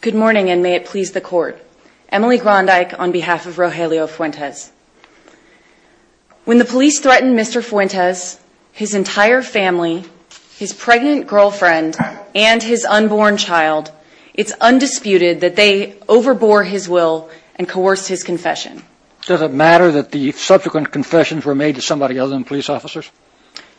Good morning and may it please the court. Emily Grondyke on behalf of Rogelio Fuentes. When the police threatened Mr. Fuentes, his entire family, his pregnant girlfriend, and his unborn child, it's undisputed that they overbore his will and coerced his confession. Does it matter that the subsequent confessions were made to somebody other than police officers?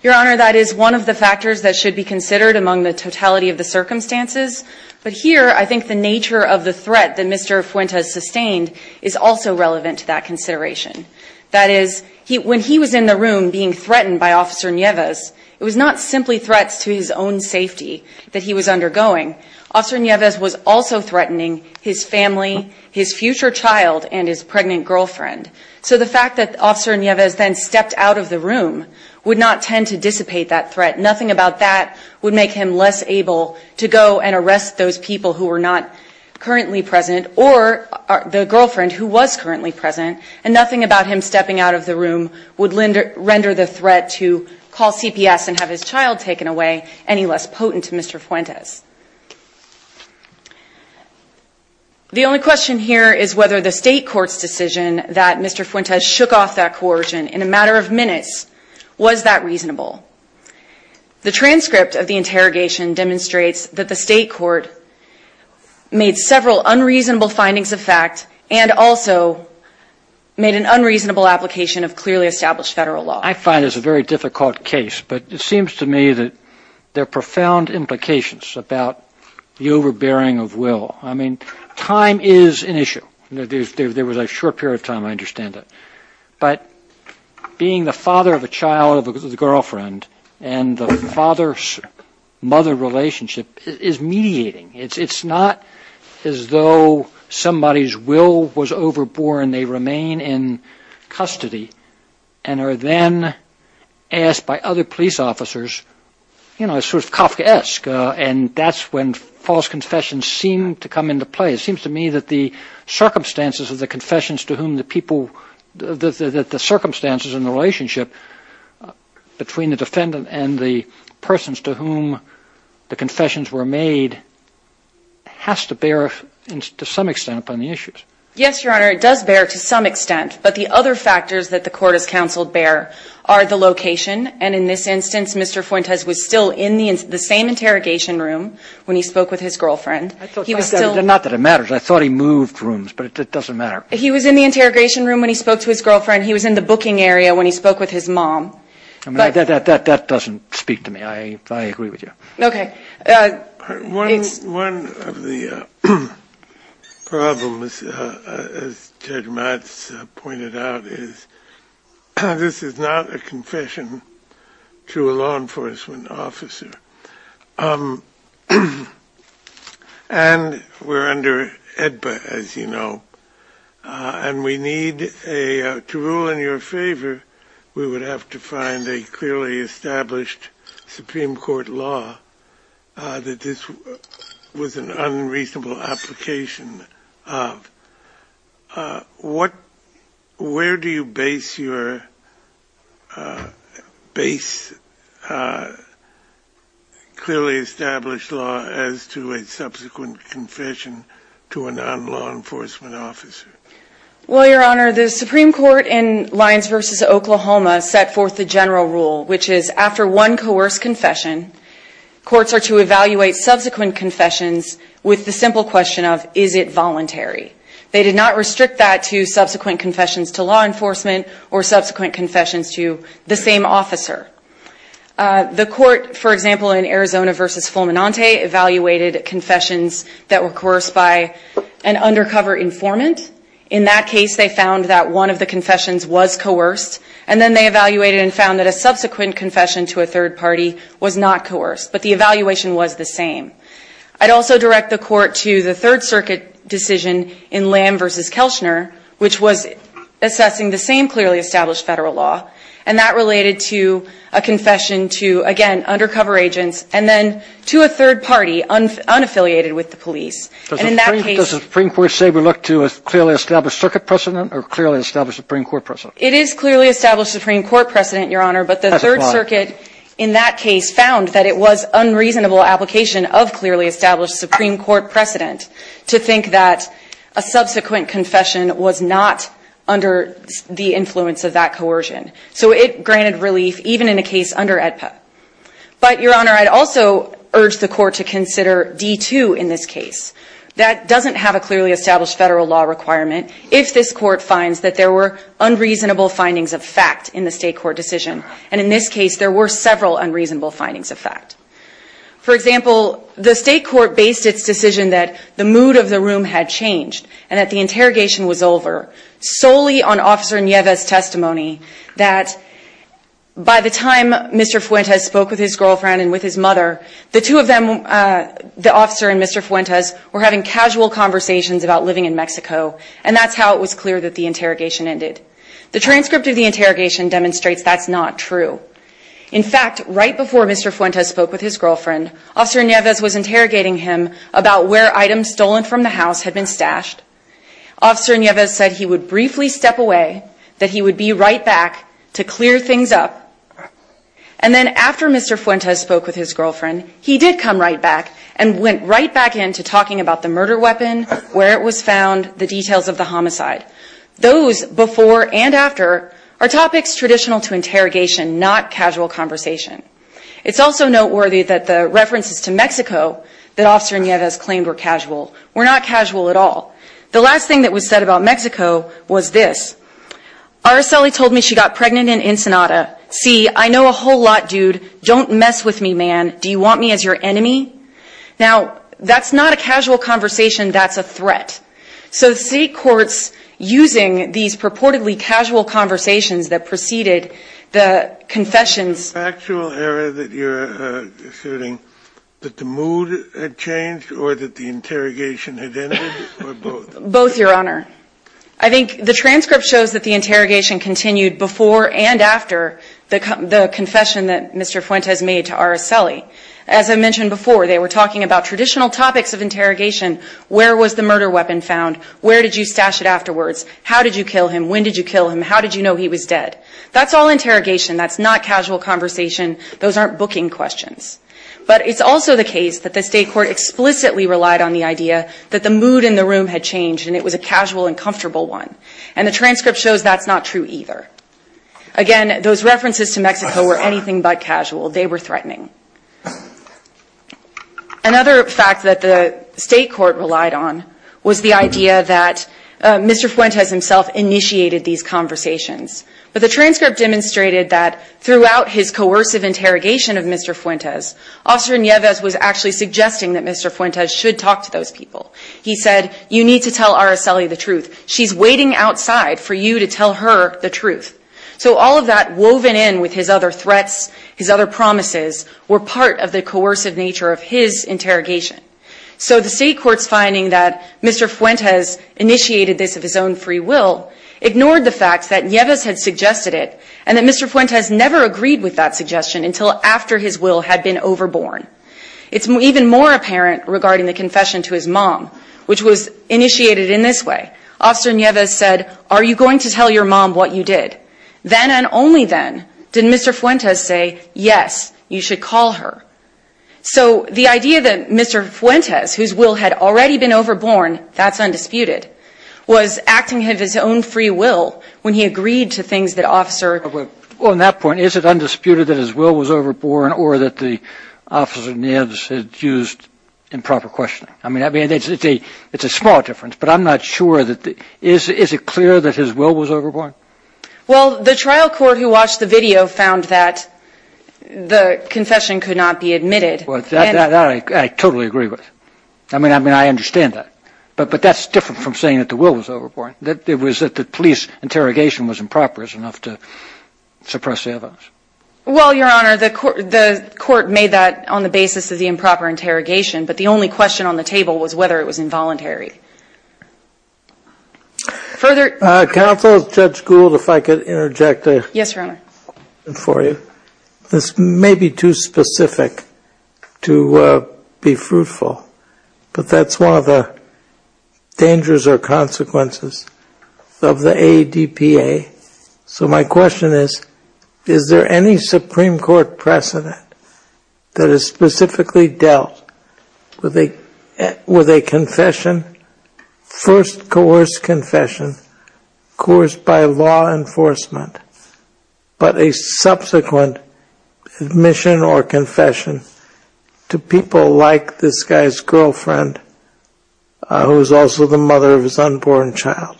Your Honor, that is one of the factors that should be considered among the totality of the circumstances, but here I think the nature of the threat that Mr. Fuentes sustained is also relevant to that consideration. That is, when he was in the room being threatened by Officer Nieves, it was not simply threats to his own safety that he was undergoing. Officer Nieves was also threatening his family, his future child, and his pregnant girlfriend. So the fact that Officer Nieves then stepped out of the room would not tend to dissipate that threat. Nothing about that would make him less able to go and arrest those people who were not currently present or the girlfriend who was currently present, and nothing about him stepping out of the room would render the threat to call CPS and have his child taken away any less potent to Mr. Fuentes. The only question here is whether the State Court's decision that Mr. Fuentes shook off that coercion in a matter of minutes, was that reasonable? The transcript of the interrogation demonstrates that the State Court made several unreasonable findings of fact and also made an unreasonable application of clearly established federal law. I find this a very difficult case, but it seems to me that there are profound implications. About the overbearing of will. I mean, time is an issue. There was a short period of time, I understand that. But being the father of a child with a girlfriend and the father-mother relationship is mediating. It's not as though somebody's will was overborne, they remain in custody, and are then asked by other police officers, you know, sort of Kafkaesque, and that's when false confessions seem to come into play. It seems to me that the circumstances of the confessions to whom the people, that the circumstances in the relationship between the defendant and the persons to whom the confessions were made has to bear to some extent upon the issues. Yes, Your Honor, it does bear to some extent. But the other factors that the court has counseled bear are the location. And in this instance, Mr. Fuentes was still in the same interrogation room when he spoke with his girlfriend. He was still – Not that it matters. I thought he moved rooms, but it doesn't matter. He was in the interrogation room when he spoke to his girlfriend. He was in the booking area when he spoke with his mom. That doesn't speak to me. I agree with you. Okay. One of the problems, as Judge Matz pointed out, is this is not a confession to a law enforcement officer. And we're under EDBA, as you know, and we need a – to rule in your favor, we would have to find a clearly established Supreme Court law that this was an unreasonable application of. What – where do you base your – base clearly established law as to a subsequent confession to a non-law enforcement officer? Well, Your Honor, the Supreme Court in Lyons v. Oklahoma set forth the general rule, which is after one coerced confession, courts are to evaluate subsequent confessions with the simple question of, is it voluntary? They did not restrict that to subsequent confessions to law enforcement or subsequent confessions to the same officer. The court, for example, in Arizona v. Fulminante evaluated confessions that were coerced by an undercover informant. In that case, they found that one of the confessions was coerced, and then they evaluated and found that a subsequent confession to a third party was not coerced, but the evaluation was the same. I'd also direct the court to the Third Circuit decision in Lamb v. Kelschner, which was assessing the same clearly established federal law, and that related to a confession to, again, undercover agents, and then to a third party unaffiliated with the police. And in that case – Does the Supreme Court say we look to a clearly established circuit precedent or a clearly established Supreme Court precedent? It is clearly established Supreme Court precedent, Your Honor. That's a lie. But the Third Circuit in that case found that it was unreasonable application of clearly established Supreme Court precedent to think that a subsequent confession was not under the influence of that coercion. So it granted relief even in a case under AEDPA. But, Your Honor, I'd also urge the court to consider D-2 in this case. That doesn't have a clearly established federal law requirement if this court finds that there were unreasonable findings of fact in the state court decision. And in this case, there were several unreasonable findings of fact. For example, the state court based its decision that the mood of the room had changed and that the interrogation was over solely on Officer Nieves' testimony that by the time Mr. Fuentes spoke with his girlfriend and with his mother, the two of them, the officer and Mr. Fuentes, were having casual conversations about living in Mexico, and that's how it was clear that the interrogation ended. The transcript of the interrogation demonstrates that's not true. In fact, right before Mr. Fuentes spoke with his girlfriend, Officer Nieves was interrogating him about where items stolen from the house had been stashed. Officer Nieves said he would briefly step away, that he would be right back to clear things up. And then after Mr. Fuentes spoke with his girlfriend, he did come right back and went right back into talking about the murder weapon, where it was found, the details of the homicide. Those before and after are topics traditional to interrogation, not casual conversation. It's also noteworthy that the references to Mexico that Officer Nieves claimed were casual were not casual at all. The last thing that was said about Mexico was this. Aracely told me she got pregnant in Ensenada. See, I know a whole lot, dude. Don't mess with me, man. Do you want me as your enemy? Now, that's not a casual conversation. That's a threat. So state courts, using these purportedly casual conversations that preceded the confessions The factual area that you're asserting, that the mood had changed or that the interrogation had ended, or both? Both, Your Honor. I think the transcript shows that the interrogation continued before and after the confession that Mr. Fuentes made to Aracely. As I mentioned before, they were talking about traditional topics of interrogation. Where was the murder weapon found? Where did you stash it afterwards? How did you kill him? When did you kill him? How did you know he was dead? That's all interrogation. That's not casual conversation. Those aren't booking questions. But it's also the case that the state court explicitly relied on the idea that the mood in the room had changed and it was a casual and comfortable one. And the transcript shows that's not true either. Again, those references to Mexico were anything but casual. They were threatening. Another fact that the state court relied on was the idea that Mr. Fuentes himself initiated these conversations. But the transcript demonstrated that throughout his coercive interrogation of Mr. Fuentes, Officer Nieves was actually suggesting that Mr. Fuentes should talk to those people. He said, you need to tell Aracely the truth. So all of that woven in with his other threats, his other promises, were part of the coercive nature of his interrogation. So the state court's finding that Mr. Fuentes initiated this of his own free will ignored the fact that Nieves had suggested it and that Mr. Fuentes never agreed with that suggestion until after his will had been overborne. It's even more apparent regarding the confession to his mom which was initiated in this way. Officer Nieves said, are you going to tell your mom what you did? Then and only then did Mr. Fuentes say, yes, you should call her. So the idea that Mr. Fuentes, whose will had already been overborne, that's undisputed, was acting of his own free will when he agreed to things that officer On that point, is it undisputed that his will was overborne or that the officer Nieves had used improper questioning? I mean, it's a small difference, but I'm not sure. Is it clear that his will was overborne? Well, the trial court who watched the video found that the confession could not be admitted. Well, that I totally agree with. I mean, I understand that. But that's different from saying that the will was overborne. It was that the police interrogation was improper enough to suppress the evidence. Well, Your Honor, the court made that on the basis of the improper interrogation, but the only question on the table was whether it was involuntary. Counsel, Judge Gould, if I could interject a question for you. Yes, Your Honor. This may be too specific to be fruitful, but that's one of the dangers or consequences of the ADPA. So my question is, is there any Supreme Court precedent that is specifically dealt with a confession first coerced confession, coerced by law enforcement, but a subsequent admission or confession to people like this guy's girlfriend, who is also the mother of his unborn child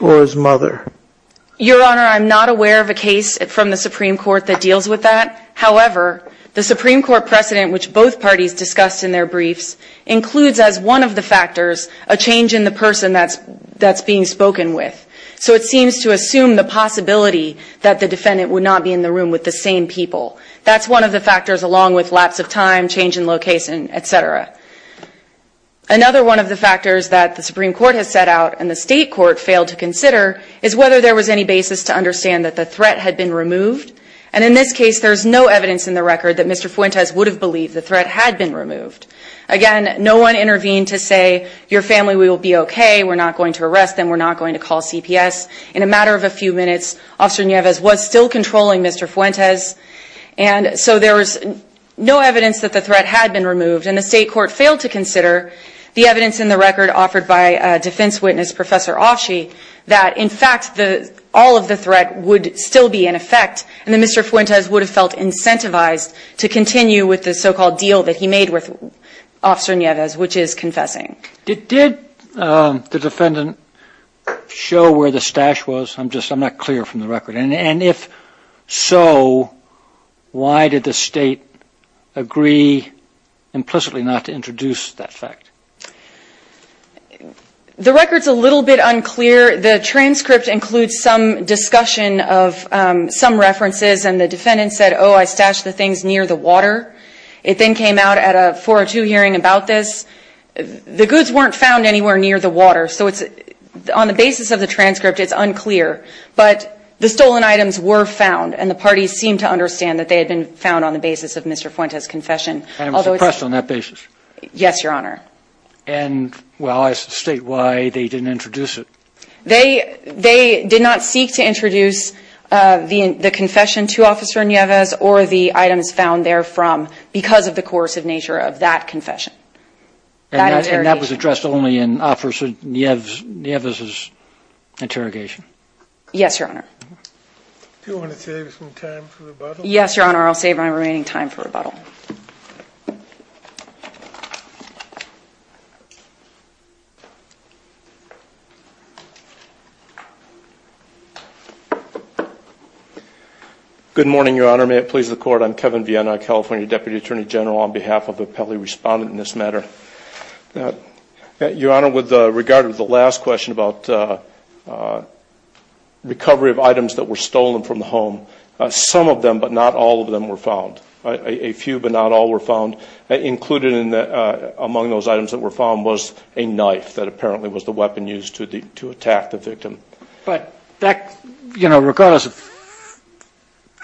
or his mother? Your Honor, I'm not aware of a case from the Supreme Court that deals with that. However, the Supreme Court precedent, which both parties discussed in their briefs, includes as one of the factors a change in the person that's being spoken with. So it seems to assume the possibility that the defendant would not be in the room with the same people. That's one of the factors, along with lapse of time, change in location, et cetera. Another one of the factors that the Supreme Court has set out and the State Court failed to consider is whether there was any basis to understand that the threat had been removed. And in this case, there's no evidence in the record that Mr. Fuentes would have believed the threat had been removed. Again, no one intervened to say, your family, we will be okay. We're not going to arrest them. We're not going to call CPS. In a matter of a few minutes, Officer Nieves was still controlling Mr. Fuentes. And so there was no evidence that the threat had been removed. And the State Court failed to consider the evidence in the record offered by defense witness Professor Offshee that, in fact, all of the threat would still be in effect, and that Mr. Fuentes would have felt incentivized to continue with the so-called deal that he made with Officer Nieves, which is confessing. Did the defendant show where the stash was? I'm not clear from the record. And if so, why did the State agree implicitly not to introduce that fact? The record's a little bit unclear. The transcript includes some discussion of some references. And the defendant said, oh, I stashed the things near the water. It then came out at a 402 hearing about this. The goods weren't found anywhere near the water. So on the basis of the transcript, it's unclear. But the stolen items were found. And the parties seemed to understand that they had been found on the basis of Mr. Fuentes' confession. And it was suppressed on that basis? Yes, Your Honor. And, well, I state why they didn't introduce it. They did not seek to introduce the confession to Officer Nieves or the items found there from, because of the coercive nature of that confession, that interrogation. And that was addressed only in Officer Nieves' interrogation? Yes, Your Honor. Do you want to save some time for rebuttal? Yes, Your Honor. Thank you, Your Honor. I'll save my remaining time for rebuttal. Good morning, Your Honor. May it please the Court. I'm Kevin Viena, California Deputy Attorney General, on behalf of the appellee respondent in this matter. Your Honor, with regard to the last question about recovery of items that were stolen from the home, some of them, but not all of them, were found. A few, but not all, were found. Included among those items that were found was a knife that apparently was the weapon used to attack the victim. But that, you know, regardless of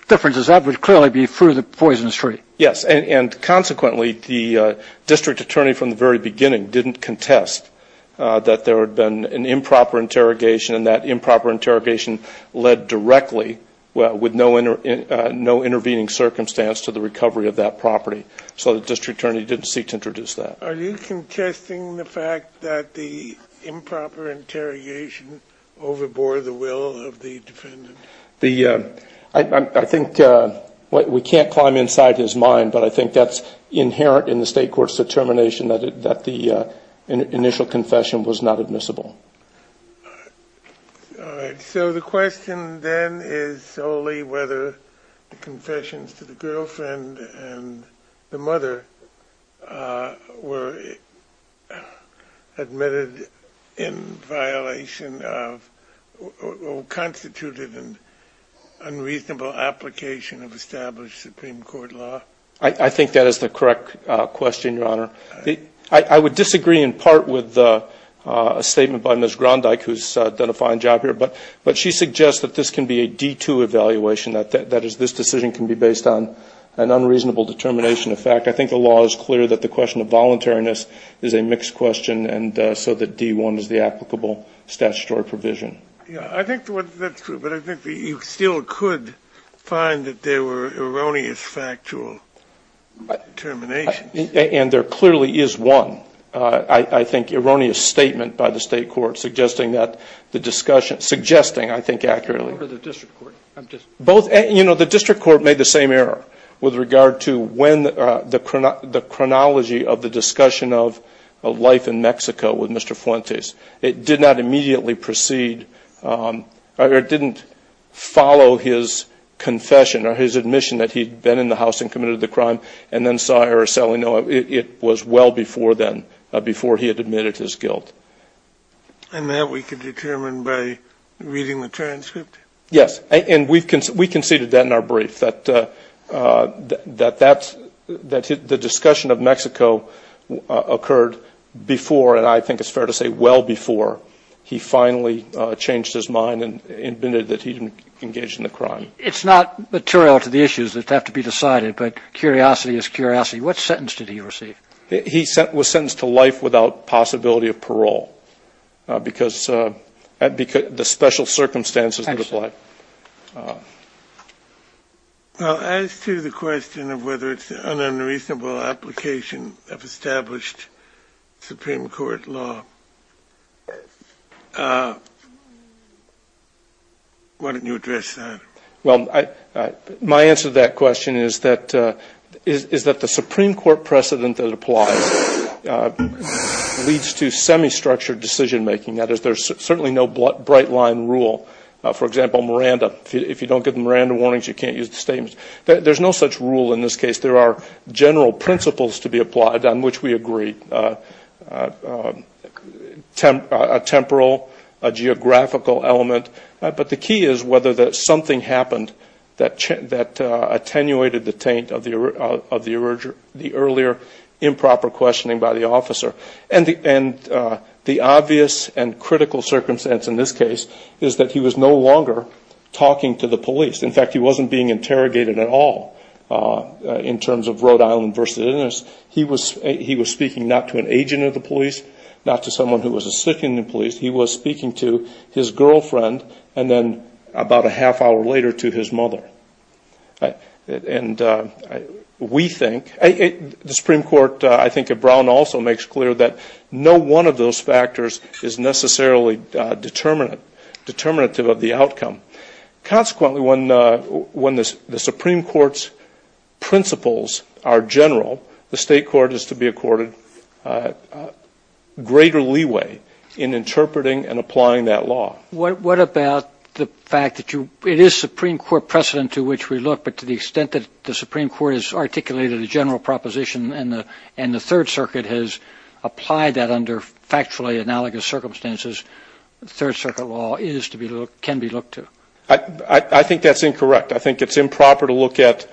differences, that would clearly be through the poison street. Yes. And consequently, the district attorney from the very beginning didn't contest that there had been an improper interrogation, and that improper interrogation led directly with no intervening circumstance to the recovery of that property. So the district attorney didn't seek to introduce that. Are you contesting the fact that the improper interrogation overbore the will of the defendant? I think we can't climb inside his mind, but I think that's inherent in the State Court's determination that the initial confession was not admissible. All right. So the question then is solely whether the confessions to the girlfriend and the mother were admitted in violation of or constituted an unreasonable application of established Supreme Court law? I think that is the correct question, Your Honor. I would disagree in part with a statement by Ms. Grondyke, who has done a fine job here, but she suggests that this can be a D-2 evaluation, that this decision can be based on an unreasonable determination of fact. I think the law is clear that the question of voluntariness is a mixed question, and so that D-1 is the applicable statutory provision. I think that's true, but I think you still could find that there were erroneous factual determinations. And there clearly is one, I think, erroneous statement by the State Court suggesting that the discussion – suggesting, I think, accurately. What about the district court? You know, the district court made the same error with regard to when the chronology of the discussion of life in Mexico with Mr. Fuentes. It did not immediately proceed, or it didn't follow his confession or his admission that he had been in the house and committed the crime and then saw her as selling it. It was well before then, before he had admitted his guilt. Yes, and we conceded that in our brief, that the discussion of Mexico occurred before, and I think it's fair to say well before he finally changed his mind and admitted that he didn't engage in the crime. It's not material to the issues that have to be decided, but curiosity is curiosity. What sentence did he receive? He was sentenced to life without possibility of parole because the special circumstances that apply. Well, as to the question of whether it's an unreasonable application of established Supreme Court law, why don't you address that? Well, my answer to that question is that the Supreme Court precedent that applies leads to semi-structured decision-making. That is, there's certainly no bright-line rule. For example, Miranda. If you don't get the Miranda warnings, you can't use the statements. There's no such rule in this case. There are general principles to be applied on which we agree, a temporal, a geographical element. But the key is whether something happened that attenuated the taint of the earlier improper questioning by the officer. And the obvious and critical circumstance in this case is that he was no longer talking to the police. In fact, he wasn't being interrogated at all in terms of Rhode Island v. Innis. He was speaking not to an agent of the police, not to someone who was a citizen of the police. He was speaking to his girlfriend and then about a half hour later to his mother. And we think, the Supreme Court, I think, at Brown also makes clear that no one of those factors is necessarily determinative of the outcome. Consequently, when the Supreme Court's principles are general, the State court is to be accorded greater leeway in interpreting and applying that law. What about the fact that it is Supreme Court precedent to which we look, but to the extent that the Supreme Court has articulated a general proposition and the Third Circuit has applied that under factually analogous circumstances, Third Circuit law can be looked to? I think that's incorrect. I think it's improper to look at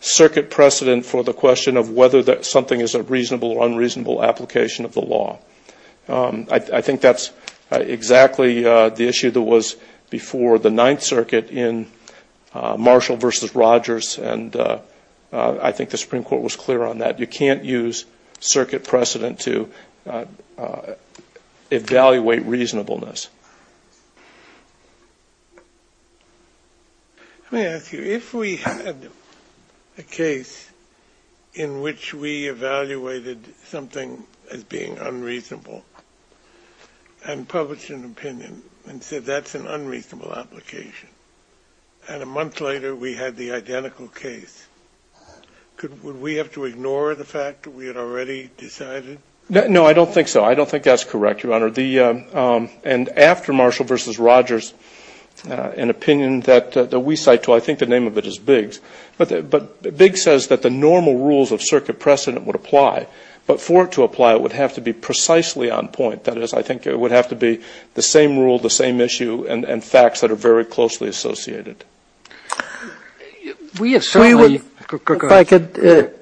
circuit precedent for the question of whether something is a reasonable or unreasonable application of the law. I think that's exactly the issue that was before the Ninth Circuit in Marshall v. Rogers. And I think the Supreme Court was clear on that. You can't use circuit precedent to evaluate reasonableness. Let me ask you, if we had a case in which we evaluated something as being unreasonable and published an opinion and said that's an unreasonable application, and a month later we had the identical case, would we have to ignore the fact that we had already decided? No, I don't think so. I don't think that's correct, Your Honor. And after Marshall v. Rogers, an opinion that we cite, I think the name of it is Biggs, but Biggs says that the normal rules of circuit precedent would apply, but for it to apply it would have to be precisely on point. That is, I think it would have to be the same rule, the same issue, and facts that are very closely associated. If I could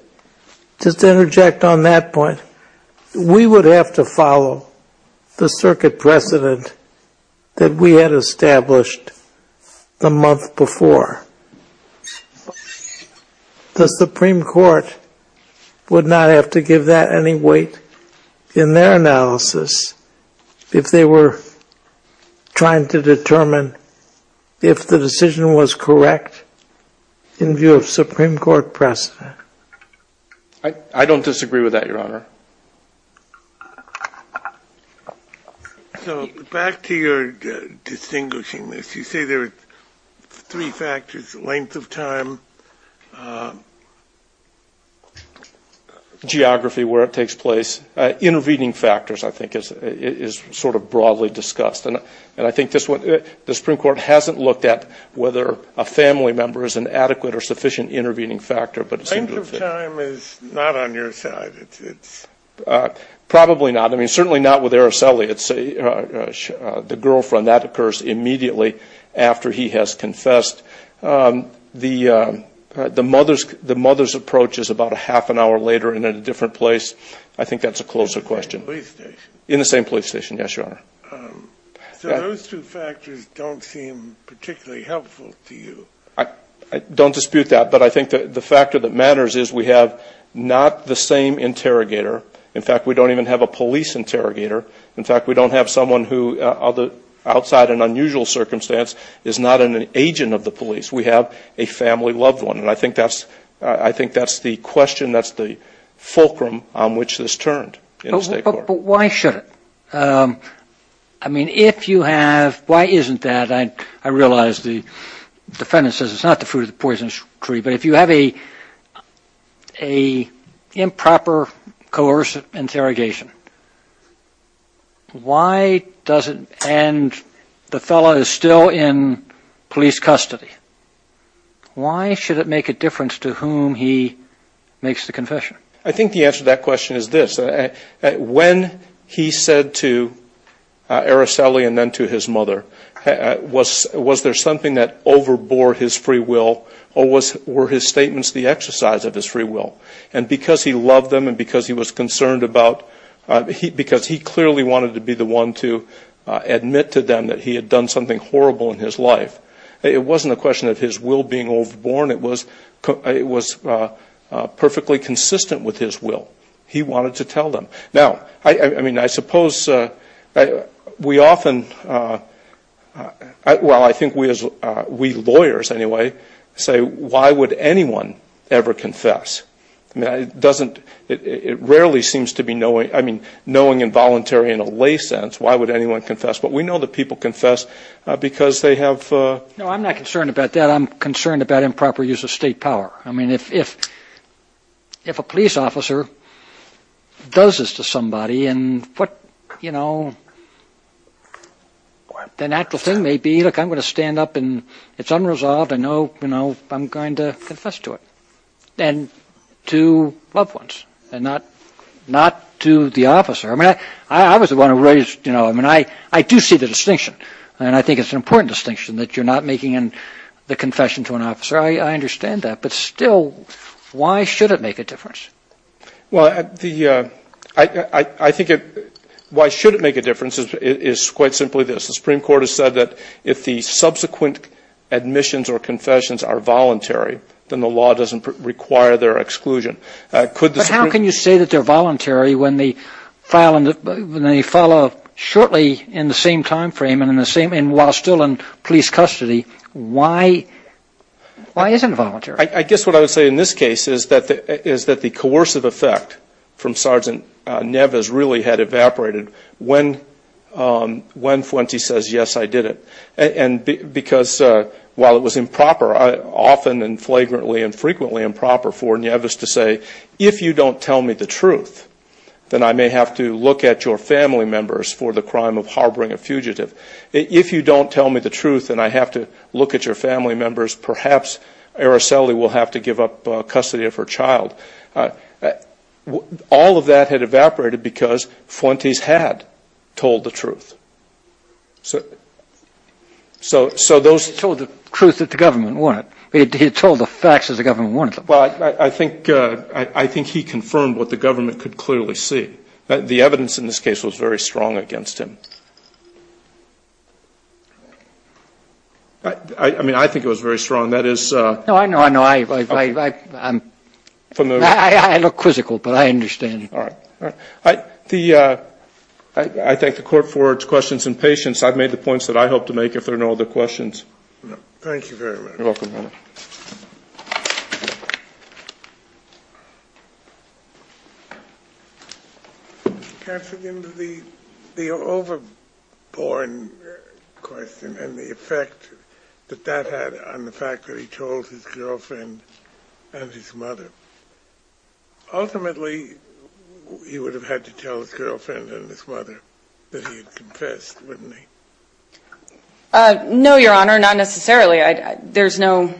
just interject on that point. We would have to follow the circuit precedent that we had established the month before. The Supreme Court would not have to give that any weight in their analysis if they were trying to determine if the decision was correct in view of Supreme Court precedent. I don't disagree with that, Your Honor. So back to your distinguishing this, you say there are three factors, length of time, geography, where it takes place, intervening factors I think is sort of broadly discussed, and I think the Supreme Court hasn't looked at whether a family member is an adequate or sufficient intervening factor. Length of time is not on your side. Probably not. I mean, certainly not with Araceli. The girlfriend, that occurs immediately after he has confessed. The mother's approach is about a half an hour later and in a different place. I think that's a closer question. In the same police station. In the same police station, yes, Your Honor. So those two factors don't seem particularly helpful to you. I don't dispute that. But I think the factor that matters is we have not the same interrogator. In fact, we don't even have a police interrogator. In fact, we don't have someone who outside an unusual circumstance is not an agent of the police. We have a family loved one. And I think that's the question, that's the fulcrum on which this turned in the State Court. But why should it? I mean, if you have, why isn't that? I realize the defendant says it's not the fruit of the poisonous tree. But if you have an improper coercive interrogation, why does it end the fellow is still in police custody? Why should it make a difference to whom he makes the confession? I think the answer to that question is this. When he said to Araceli and then to his mother, was there something that overbore his free will or were his statements the exercise of his free will? And because he loved them and because he was concerned about, because he clearly wanted to be the one to admit to them that he had done something horrible in his life, it wasn't a question of his will being overborne. It was perfectly consistent with his will. He wanted to tell them. Now, I mean, I suppose we often, well, I think we lawyers, anyway, say why would anyone ever confess? I mean, it doesn't, it rarely seems to be knowing, I mean, knowing involuntary in a lay sense, why would anyone confess? But we know that people confess because they have. No, I'm not concerned about that. I'm concerned about improper use of state power. I mean, if a police officer does this to somebody and what, you know, the natural thing may be, look, I'm going to stand up and it's unresolved. I know, you know, I'm going to confess to it and to loved ones and not to the officer. I mean, I was the one who raised, you know, I mean, I do see the distinction and I think it's an important distinction that you're not making the confession to an officer. I understand that. But still, why should it make a difference? Well, I think why should it make a difference is quite simply this. The Supreme Court has said that if the subsequent admissions or confessions are voluntary, then the law doesn't require their exclusion. But how can you say that they're voluntary when they follow shortly in the same timeframe and while still in police custody, why isn't it voluntary? I guess what I would say in this case is that the coercive effect from Sergeant Nevis really had evaporated when Fuente says, yes, I did it. And because while it was improper, often and flagrantly and frequently improper for Nevis to say, if you don't tell me the truth, then I may have to look at your family members for the crime of harboring a fugitive. If you don't tell me the truth and I have to look at your family members, perhaps Araceli will have to give up custody of her child. All of that had evaporated because Fuentes had told the truth. So those ---- He told the truth that the government wanted. He told the facts that the government wanted. Well, I think he confirmed what the government could clearly see. The evidence in this case was very strong against him. I mean, I think it was very strong. That is ---- No, I know, I know. I look quizzical, but I understand. All right. I thank the Court for its questions and patience. I've made the points that I hope to make if there are no other questions. Thank you very much. You're welcome, Your Honor. Thank you. Katherine, the overborn question and the effect that that had on the fact that he told his girlfriend and his mother, ultimately he would have had to tell his girlfriend and his mother that he had confessed, wouldn't he? No, Your Honor, not necessarily. There's no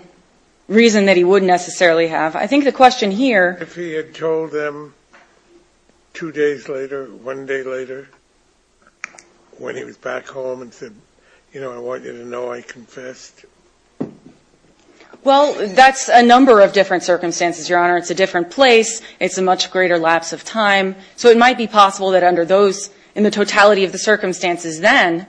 reason that he would necessarily have. I think the question here ---- If he had told them two days later, one day later, when he was back home and said, you know, I want you to know I confessed. Well, that's a number of different circumstances, Your Honor. It's a different place. It's a much greater lapse of time. So it might be possible that under those, in the totality of the circumstances then,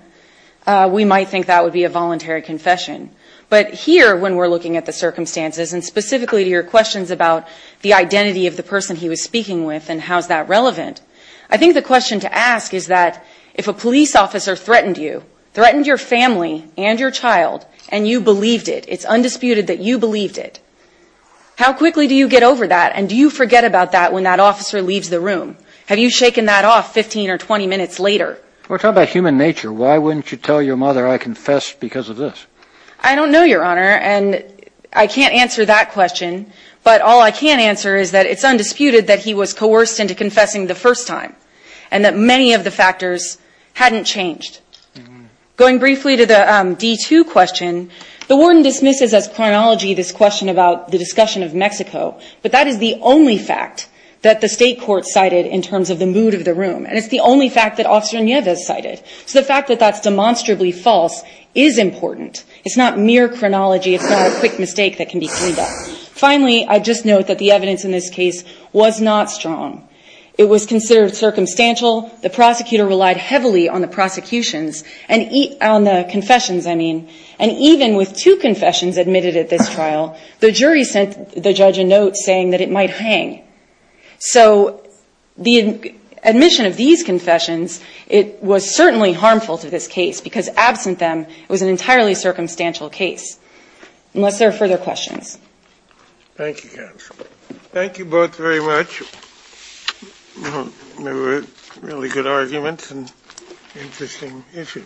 we might think that would be a voluntary confession. But here, when we're looking at the circumstances and specifically to your questions about the identity of the person he was speaking with and how is that relevant, I think the question to ask is that if a police officer threatened you, threatened your family and your child, and you believed it, it's undisputed that you believed it, how quickly do you get over that and do you forget about that when that officer leaves the room? Have you shaken that off 15 or 20 minutes later? We're talking about human nature. Why wouldn't you tell your mother I confessed because of this? I don't know, Your Honor, and I can't answer that question. But all I can answer is that it's undisputed that he was coerced into confessing the first time and that many of the factors hadn't changed. Going briefly to the D-2 question, the warden dismisses as chronology this question about the discussion of Mexico, but that is the only fact that the state court cited in terms of the mood of the room. And it's the only fact that Officer Nieves cited. So the fact that that's demonstrably false is important. It's not mere chronology. It's not a quick mistake that can be cleaned up. Finally, I'd just note that the evidence in this case was not strong. It was considered circumstantial. The prosecutor relied heavily on the prosecutions and on the confessions, I mean. And even with two confessions admitted at this trial, the jury sent the judge a note saying that it might hang. So the admission of these confessions, it was certainly harmful to this case, because absent them, it was an entirely circumstantial case. Unless there are further questions. Thank you, counsel. Thank you both very much. They were really good arguments and interesting issues.